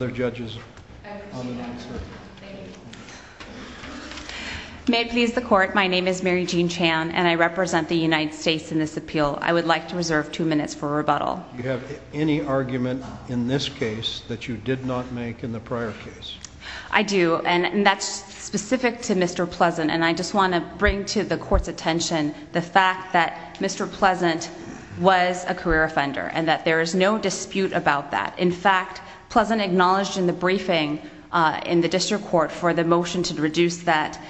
May it please the Court, my name is Mary Jean Chan and I represent the United States in this appeal. I would like to reserve two minutes for rebuttal. Do you have any argument in this case that you did not make in the prior case? I do, and that's specific to Mr. Pleasant and I just want to bring to the Court's attention the fact that Mr. Pleasant was a career offender and that there is no dispute about that. In fact, Pleasant acknowledged in the briefing in the District Court for the motion to reduce that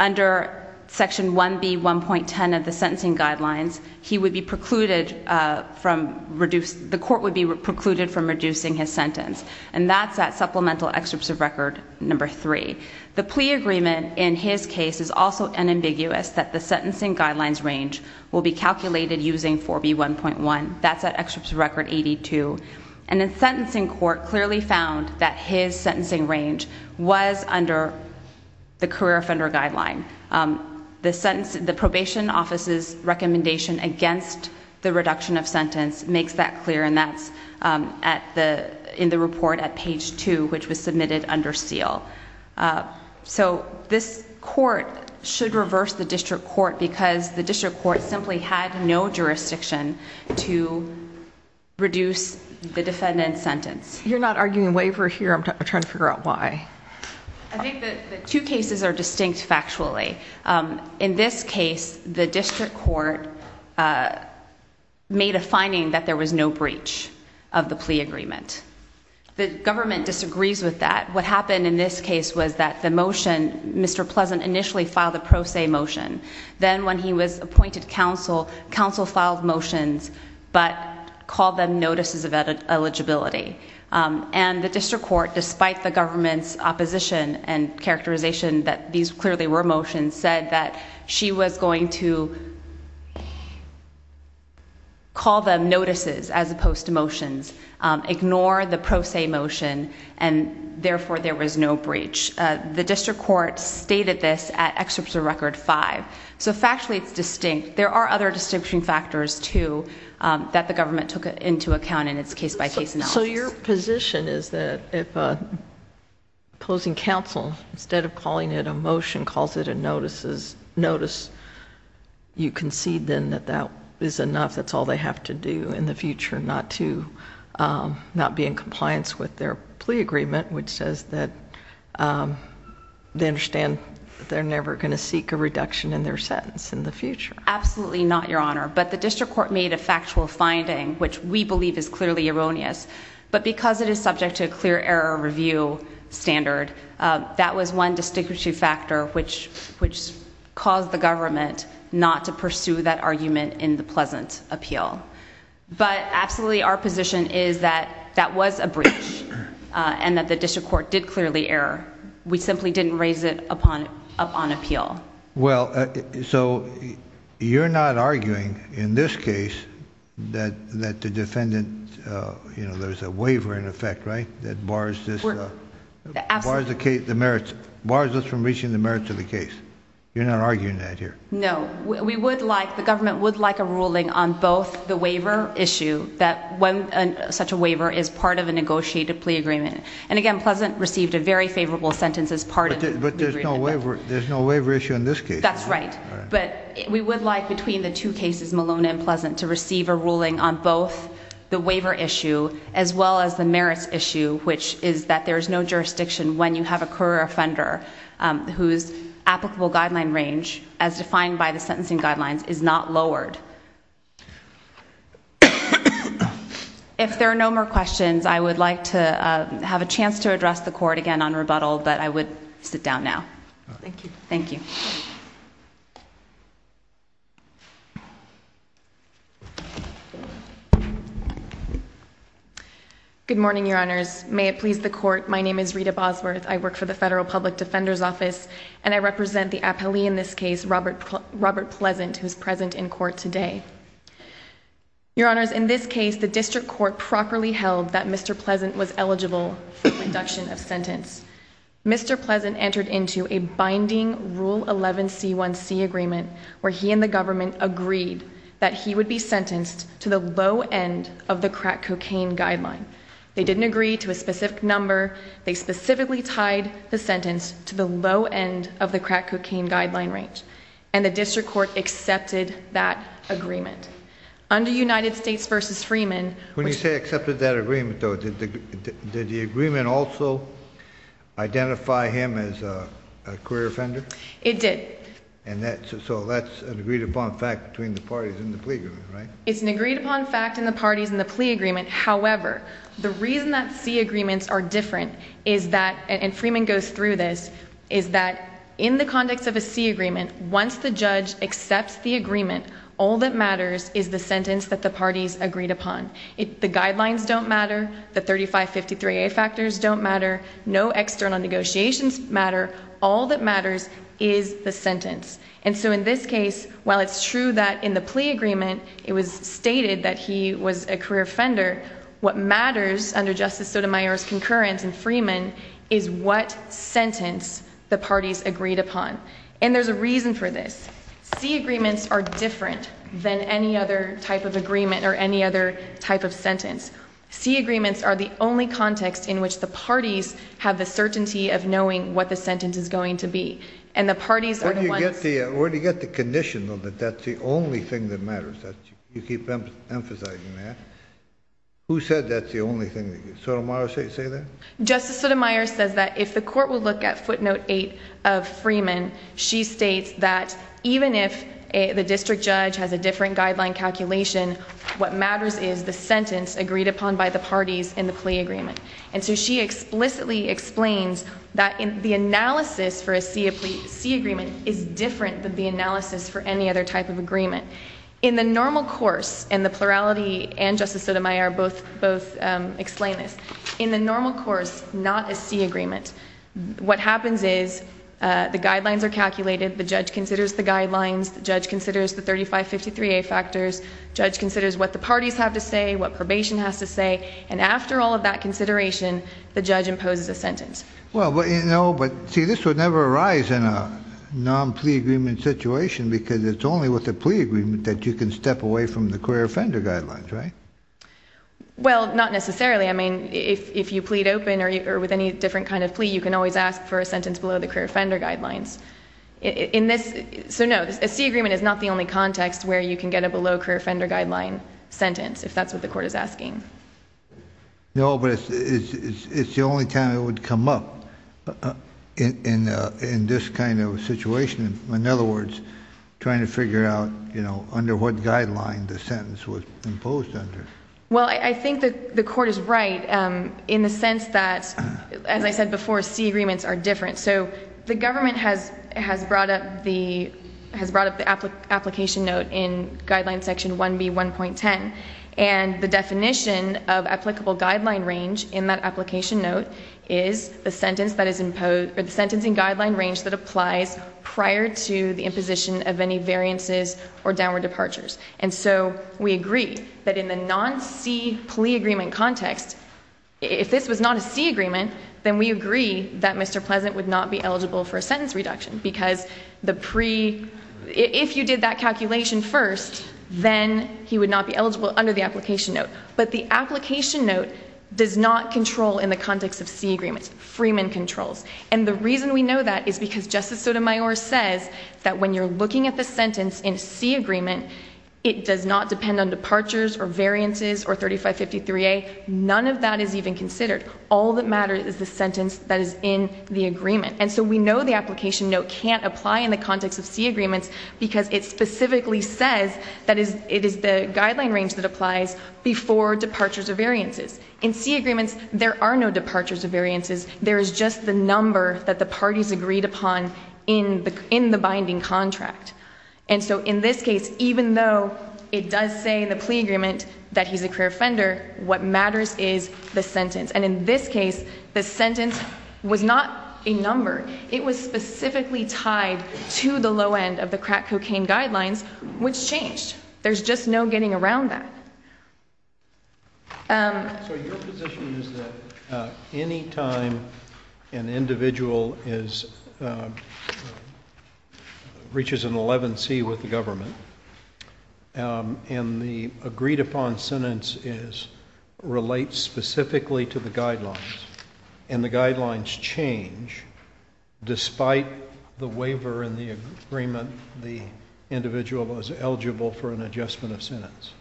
under section 1B.1.10 of the sentencing guidelines, he would be precluded from reducing, the Court would be precluded from reducing his sentence and that's at supplemental excerpts of record number three. The plea agreement in his case is also unambiguous that the sentencing guidelines range will be calculated using 4B.1.1. That's at excerpts of record 82. And the sentencing court clearly found that his sentencing range was under the career offender guideline. The sentence, the probation office's recommendation against the reduction of sentence makes that clear and that's in the report at page 2, which was submitted under seal. So this Court should reverse the section to reduce the defendant's sentence. You're not arguing waiver here. I'm trying to figure out why. I think the two cases are distinct factually. In this case, the District Court made a finding that there was no breach of the plea agreement. The government disagrees with that. What happened in this case was that the motion, Mr. Pleasant initially filed a pro se motion. Then when he was appointed counsel, counsel filed motions, but called them notices of eligibility. And the District Court, despite the government's opposition and characterization that these clearly were motions, said that she was going to call them notices as opposed to motions. Ignore the pro se motion and therefore there was no breach. The District Court stated this at excerpt of record 5. So factually it's distinct. There are other distinction factors too that the government took into account in its case-by-case analysis. So your position is that if opposing counsel, instead of calling it a motion, calls it a notice, you concede then that that is enough, that's all they have to do in the future, not to... not be in compliance with their plea agreement, which says that they understand that they're never going to seek a reduction in their sentence in the future. Absolutely not, Your Honor. But the District Court made a factual finding, which we believe is clearly erroneous, but because it is subject to a clear error review standard, that was one distinctive factor which caused the government not to pursue that argument in the Pleasant appeal. But absolutely our position is that that was a breach and that the District Court did clearly error. We simply didn't raise it upon appeal. Well, so you're not arguing in this case that the defendant, you know, there's a waiver in effect, right, that bars this... Absolutely. Bars the merits, bars us from reaching the merits of the case. You're not arguing that here. No. We would like, the government would like a ruling on both the waiver issue, that when such a waiver is part of a negotiated plea agreement. And again, Pleasant received a very favorable sentence as part of the plea agreement. But there's no waiver issue in this case. That's right. But we would like between the two cases, Maloney and Pleasant, to receive a ruling on both the waiver issue as well as the merits issue, which is that there's no jurisdiction when you have a career offender whose applicable guideline range, as defined by the sentencing guidelines, is not lowered. If there are no more questions, I would like to have a chance to address the Court again on rebuttal, but I would sit down now. Thank you. Good morning, Your Honors. May it please the Court, my name is Rita Bosworth. I work for the Federal Public Defender's Office, and I represent the appellee in this case, Robert Pleasant, who is present in court today. Your Honors, in this case, the District Court properly held that Mr. Pleasant was eligible for the reduction of sentence. Mr. Pleasant entered into a binding Rule 11C1C agreement, where he and the government agreed that he would be sentenced to the low end of the crack cocaine guideline. They didn't agree to a specific number. They specifically tied the sentence to the low end of the crack cocaine guideline range. And the District Court accepted that agreement. Under United States v. Freeman... When you say accepted that agreement, though, did the agreement also identify him as a career offender? It did. So that's an agreed-upon fact between the parties in the plea agreement, right? It's an agreed-upon fact in the parties in the plea agreement. However, the reason that C agreements are different is that, and Freeman goes through this, is that in the context of a C agreement, once the judge accepts the agreement, all that matters is the sentence that the parties agreed upon. The guidelines don't matter. The 3553A factors don't matter. No external negotiations matter. All that matters is the sentence. And so in this case, while it's true that in the plea agreement it was stated that he was a career offender, what matters under Justice Sotomayor's concurrence in Freeman is what sentence the parties agreed upon. And there's a reason for this. C agreements are different than any other type of agreement or any other type of sentence. C agreements are the only context in which the parties have the certainty of knowing what the sentence is going to be. And the parties are the ones... Where do you get the condition, though, that that's the only thing that matters? You keep emphasizing that. Who said that's the only thing? Did Sotomayor say that? Justice Sotomayor says that if the court will look at footnote 8 of Freeman, she states that even if the district judge has a different guideline calculation, what matters is the sentence agreed upon by the parties in the plea agreement. And so she explicitly explains that the analysis for a C agreement is different than the analysis for any other type of agreement. In the normal course, and the plurality and Justice Sotomayor both explain this, in the normal course, not a C agreement, what happens is the guidelines are calculated, the judge considers the guidelines, the judge considers the 3553A factors, the judge considers what the parties have to say, what probation has to say, and after all of that consideration, the judge imposes a sentence. Well, but, you know, but, see, this would never arise in a non-plea agreement situation because it's only with a plea agreement that you can step away from the career offender guidelines, right? Well, not necessarily. I mean, if you plead open or with any different kind of plea, you can always ask for a sentence below the career offender guidelines. In this, so no, a C agreement is not the only context where you can get a below career offender guideline sentence, if that's what the court is asking. No, but it's the only time it would come up in this kind of situation. In other words, trying to figure out, you know, under what guideline the sentence was imposed under. Well, I think that the court is right in the sense that, as I said before, C agreements are different. So the government has brought up the application note in guideline section 1B1.10, and the definition of applicable guideline range in that application note is the sentence that is imposed, or the sentencing guideline range that applies prior to the imposition of any variances or downward departures. And so we agree that in the non-C plea agreement context, if this was not a C agreement, then we agree that Mr. Pleasant would not be eligible for a sentence reduction because the pre, if you did that calculation first, then he would not be eligible under the application note. But the application note does not control in the context of C agreements. Freeman controls. And the reason we know that is because Justice Sotomayor says that when you're looking at the sentence in C agreement, it does not depend on departures or variances or 3553A. None of that is even considered. All that matters is the sentence that is in the agreement. And so we know the application note can't apply in the context of C agreements because it specifically says that it is the guideline range that applies before departures or variances. In C agreements, there are no departures or variances. There is just the number that the parties agreed upon in the binding contract. And so in this case, even though it does say in the plea agreement that he's a career offender, what matters is the sentence. And in this case, the sentence was not a number. It was specifically tied to the low end of the crack cocaine guidelines, which changed. There's just no getting around that. So your position is that any time an individual reaches an 11C with the government, and the agreed upon sentence relates specifically to the guidelines, and the guidelines change despite the waiver in the agreement, the individual was eligible for an adjustment of sentence?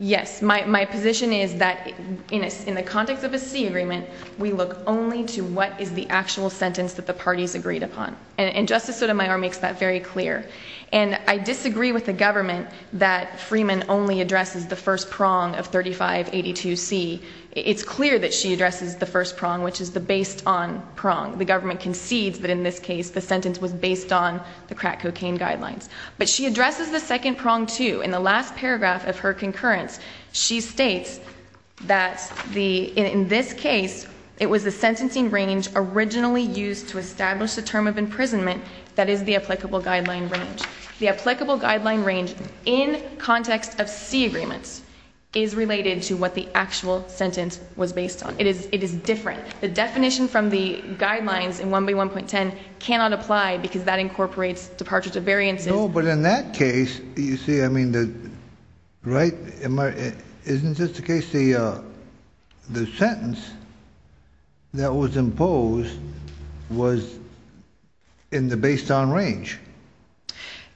Yes. My position is that in the context of a C agreement, we look only to what is the actual sentence that the parties agreed upon. And Justice Sotomayor makes that very clear. And I disagree with the government that Freeman only addresses the first prong of 3582C. It's clear that she addresses the first prong, which is the based on prong. The government concedes that in this case, the sentence was based on the crack cocaine guidelines. But she addresses the second prong too. In the last paragraph of her concurrence, she states that in this case, it was the sentencing range originally used to establish the term of imprisonment that is the applicable guideline range. The applicable guideline range in context of C agreements is related to what the actual sentence was based on. It is different. The definition from the guidelines in 1B1.10 cannot apply because that incorporates departure to variances. No, but in that case, you see, I mean, right? Isn't this the case, the sentence that was imposed was in the based on range?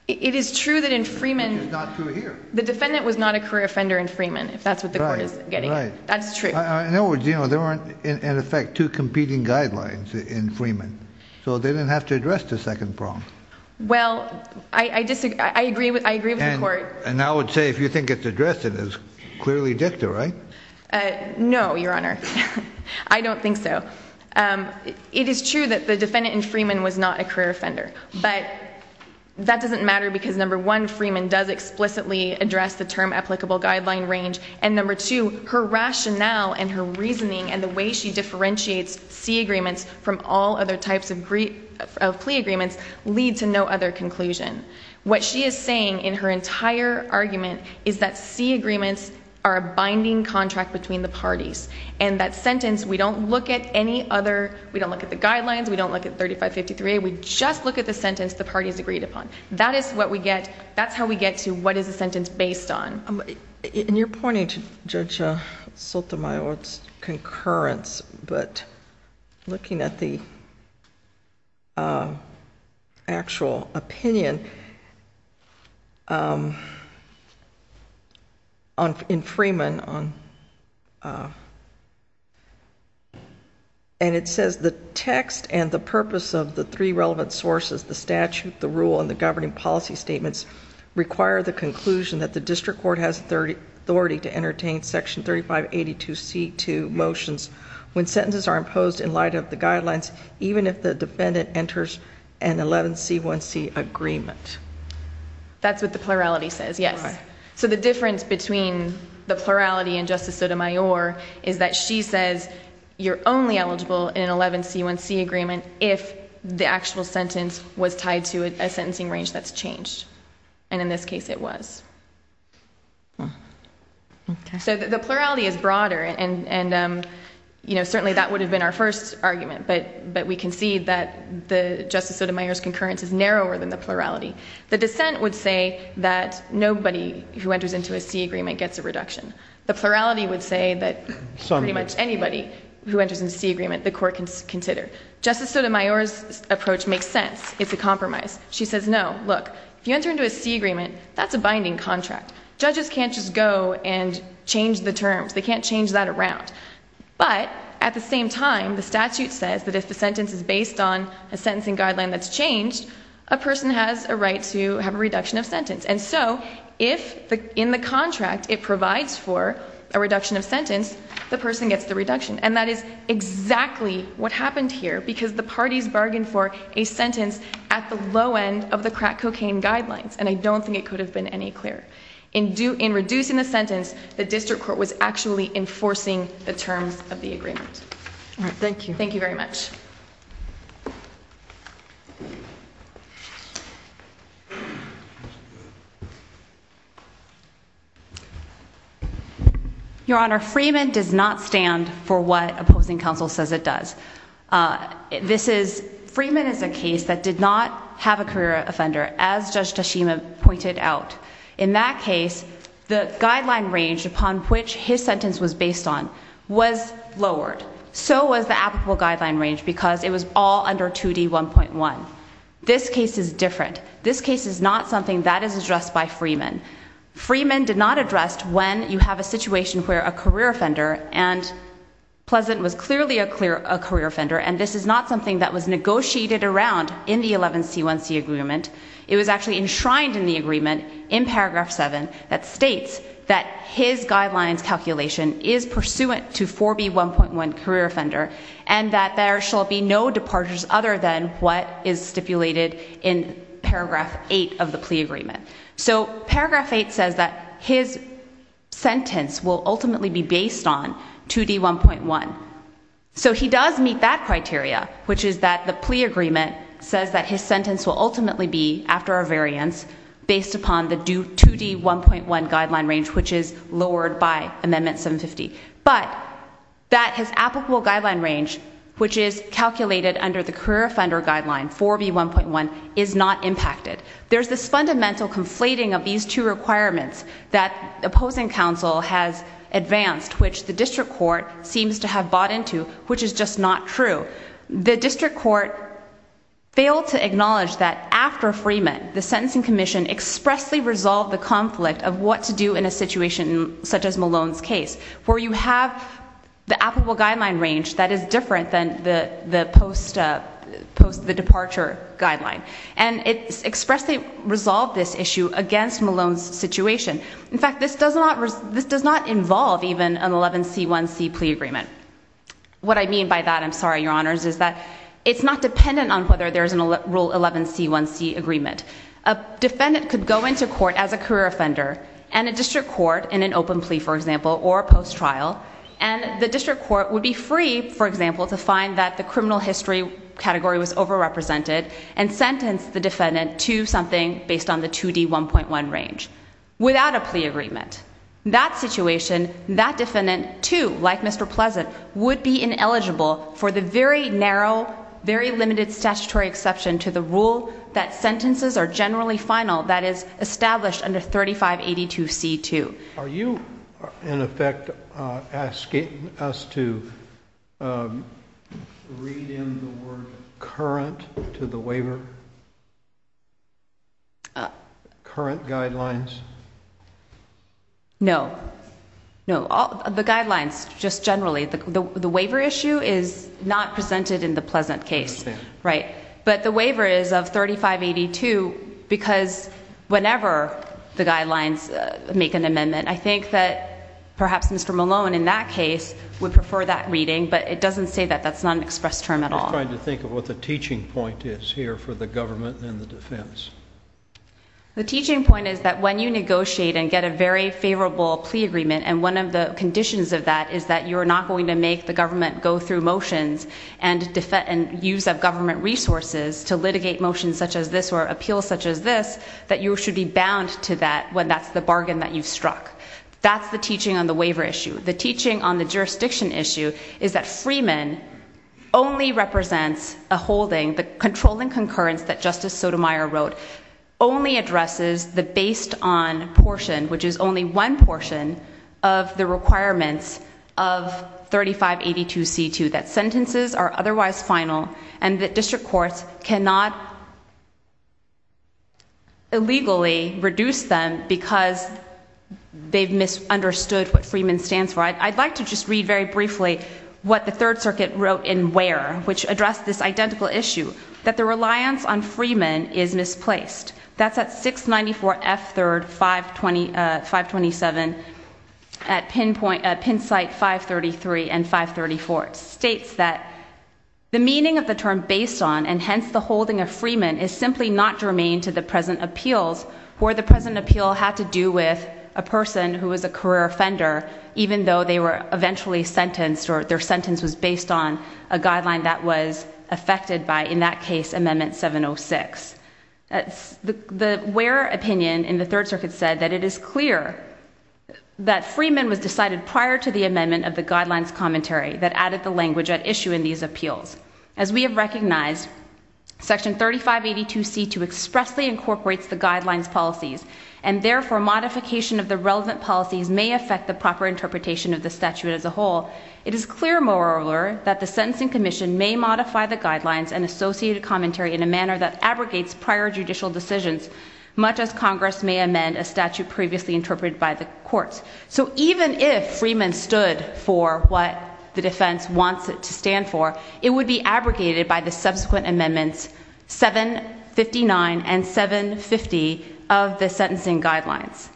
It is true that in Freeman It is not true here. The defendant was not a career offender in Freeman, if that's what the court is getting at. That's true. In other words, you know, there weren't, in effect, two competing guidelines in Freeman. So they didn't have to address the second prong. Well, I disagree. I agree with the court. And I would say if you think it's addressed, it is clearly dicta, right? No, Your Honor. I don't think so. It is true that the defendant in Freeman was not a career The defendant, as I said, did not explicitly address the term applicable guideline range. And number two, her rationale and her reasoning and the way she differentiates C agreements from all other types of plea agreements lead to no other conclusion. What she is saying in her entire argument is that C agreements are a binding contract between the parties. And that sentence, we don't look at any other, we don't look at the guidelines. We don't look at 3553A. We just look at the sentence the parties agreed upon. That is what we get, that's how we get to what is the sentence based on. And you're pointing to Judge Sotomayor's concurrence, but looking at the actual opinion in Freeman, and it says the text and the purpose of the three relevant sources, the statute, the rule, and the governing policy statements require the conclusion that the district court has authority to entertain section 3582C2 motions when sentences are imposed in light of the guidelines, even if the defendant enters an 11C1C agreement. That's what the plurality says, yes. So the difference between the plurality and Justice Sotomayor is that she says you're only eligible in an 11C1C agreement if the actual sentence was tied to a sentencing range that's changed. And in this case it was. So the plurality is broader, and certainly that would have been our first argument, but we concede that Justice Sotomayor's concurrence is narrower than the plurality. The dissent would say that nobody who enters into a C agreement gets a reduction. The plurality would say that pretty much anybody who enters into a C agreement, the court can consider. Justice Sotomayor's approach makes sense. It's a compromise. She says no, look, if you enter into a C agreement, that's a binding contract. Judges can't just go and change the terms. They can't change that around. But at the same time, the statute says that if the sentence is based on a sentencing guideline that's changed, a person has a right to have a reduction of sentence. And so if in the contract it provides for a reduction of sentence, the person gets the reduction. And that is exactly what happened here, because the parties bargained for a sentence at the low end of the crack cocaine guidelines, and I don't think it could have been any clearer. In reducing the sentence, the district court was actually enforcing the terms of the agreement. All right, thank you. Thank you very much. Your Honor, Freeman does not stand for what opposing counsel says it does. This is, Freeman is a case that did not have a career offender, as Judge Tashima pointed out. In that case, the guideline range upon which his sentence was based on was lowered. So was the applicable guideline range, because it was all under 2D1.1. This case is different. This case is not something that is addressed by Freeman. Freeman did not address when you have a situation where a career offender, and Pleasant was clearly a career offender, and this is not something that was negotiated around in the 11C1C agreement. It was actually enshrined in the agreement in paragraph 7 that states that his guidelines calculation is pursuant to 4B1.1 career offender, and that there shall be no departures other than what is stipulated in paragraph 8 of the plea agreement. So paragraph 8 says that his sentence will ultimately be based on 2D1.1. So he does meet that criteria, which is that the plea agreement says that his sentence will ultimately be, after a variance, based upon the 2D1.1 guideline range, which is lowered by amendment 750. But that his applicable guideline range, which is calculated under the career offender guideline, 4B1.1, is not impacted. There's this fundamental conflating of these two requirements that opposing counsel has advanced, which the district court seems to have bought into, which is just not true. The district court failed to acknowledge that after Freeman, the sentencing commission expressly resolved the conflict of what to do in a situation such as Malone's case, where you have the applicable guideline range that is different than the post-departure guideline. And it expressly resolved this issue against Malone's situation. In fact, this does not involve even an 11C1C plea agreement. What I mean by that, I'm sorry, your honors, is that it's not dependent on whether there's a rule 11C1C agreement. A defendant could go into court as a career offender and a district court in an open plea, for example, or a post-trial, and the district court would be free, for example, to find that the criminal history category was overrepresented and sentence the defendant to something based on the 2D1.1 range without a plea agreement. That situation, that defendant, too, like Mr. Pleasant, would be ineligible for the very narrow, very limited statutory exception to the rule that sentences are generally final, that is, established under 3582C2. Are you, in effect, asking us to read in the word current to the waiver? Current guidelines? No. No. The guidelines, just generally. The waiver issue is not presented in the Pleasant case. Right. But the waiver is of 3582 because whenever the guidelines make an amendment, I think that perhaps Mr. Malone, in that case, would prefer that reading, but it doesn't say that. That's not an express term at all. I'm just trying to think of what the teaching point is here for the government and the defense. The teaching point is that when you negotiate and get a very favorable plea agreement, and one of the conditions of that is that you're not going to make the government go through motions and use of government resources to litigate motions such as this or appeals such as this, that you should be bound to that when that's the bargain that you've struck. That's the teaching on the waiver issue. The teaching on the jurisdiction issue is that Freeman only represents a holding, the controlling concurrence that Justice Sotomayor wrote only addresses the based on portion, which is only one portion of the requirements of 3582C2 that sentences are otherwise final and that district courts cannot illegally reduce them because they've misunderstood what Freeman stands for. I'd like to just read very briefly what the Third Circuit wrote in Ware, which addressed this identical issue, that the reliance on Freeman is misplaced. That's at 694F3, 527, at pin site 533 and 534. It states that the meaning of the term based on and hence the holding of Freeman is simply not germane to the present appeals where the present appeal had to do with a person who was a career offender even though they were eventually sentenced or their sentence was based on a guideline that was affected by, in that case, Amendment 706. The Ware opinion in the Third Circuit said that it is clear that Freeman was decided prior to the amendment of the guidelines commentary that added the language at issue in these appeals. As we have recognized, Section 3582C2 expressly incorporates the guidelines policies and therefore modification of the relevant policies may affect the proper interpretation of the statute as a whole. It is clear, moreover, that the sentencing commission may modify the guidelines and associated commentary in a manner that abrogates prior judicial decisions much as Congress may amend a statute previously interpreted by the courts. So even if Freeman stood for what the defense wants it to stand for, it would be abrogated by the subsequent amendments 759 and 750 of the sentencing guidelines.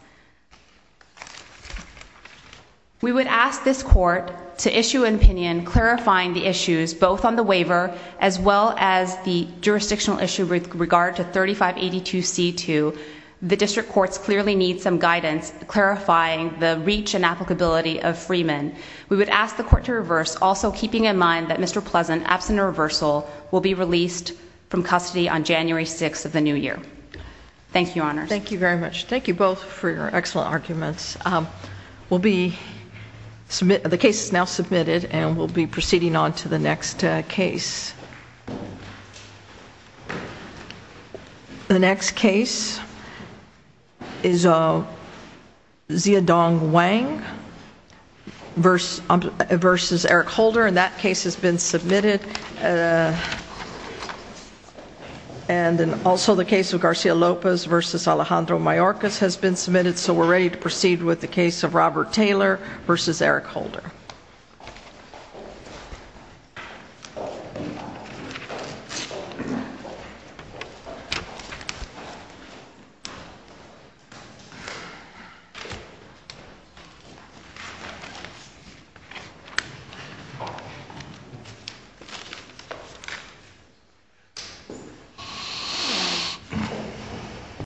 We would ask this court to issue an opinion clarifying the issues both on the waiver as well as the jurisdictional issue with regard to 3582C2. The district courts clearly need some guidance clarifying the reach and applicability of Freeman. We would ask the court to reverse, also keeping in mind that Mr. Pleasant, absent of reversal, will be released from custody on January 6th Thank you very much. Thank you both for your excellent arguments. The case is now submitted and we'll be proceeding on to the next case. The next case is Xiaodong Wang versus Eric Holder and that case has been submitted and also the case of Garcia Lopez versus Alejandro Mayorkas has been submitted so we're ready to proceed with the case of Robert Taylor versus Eric Holder.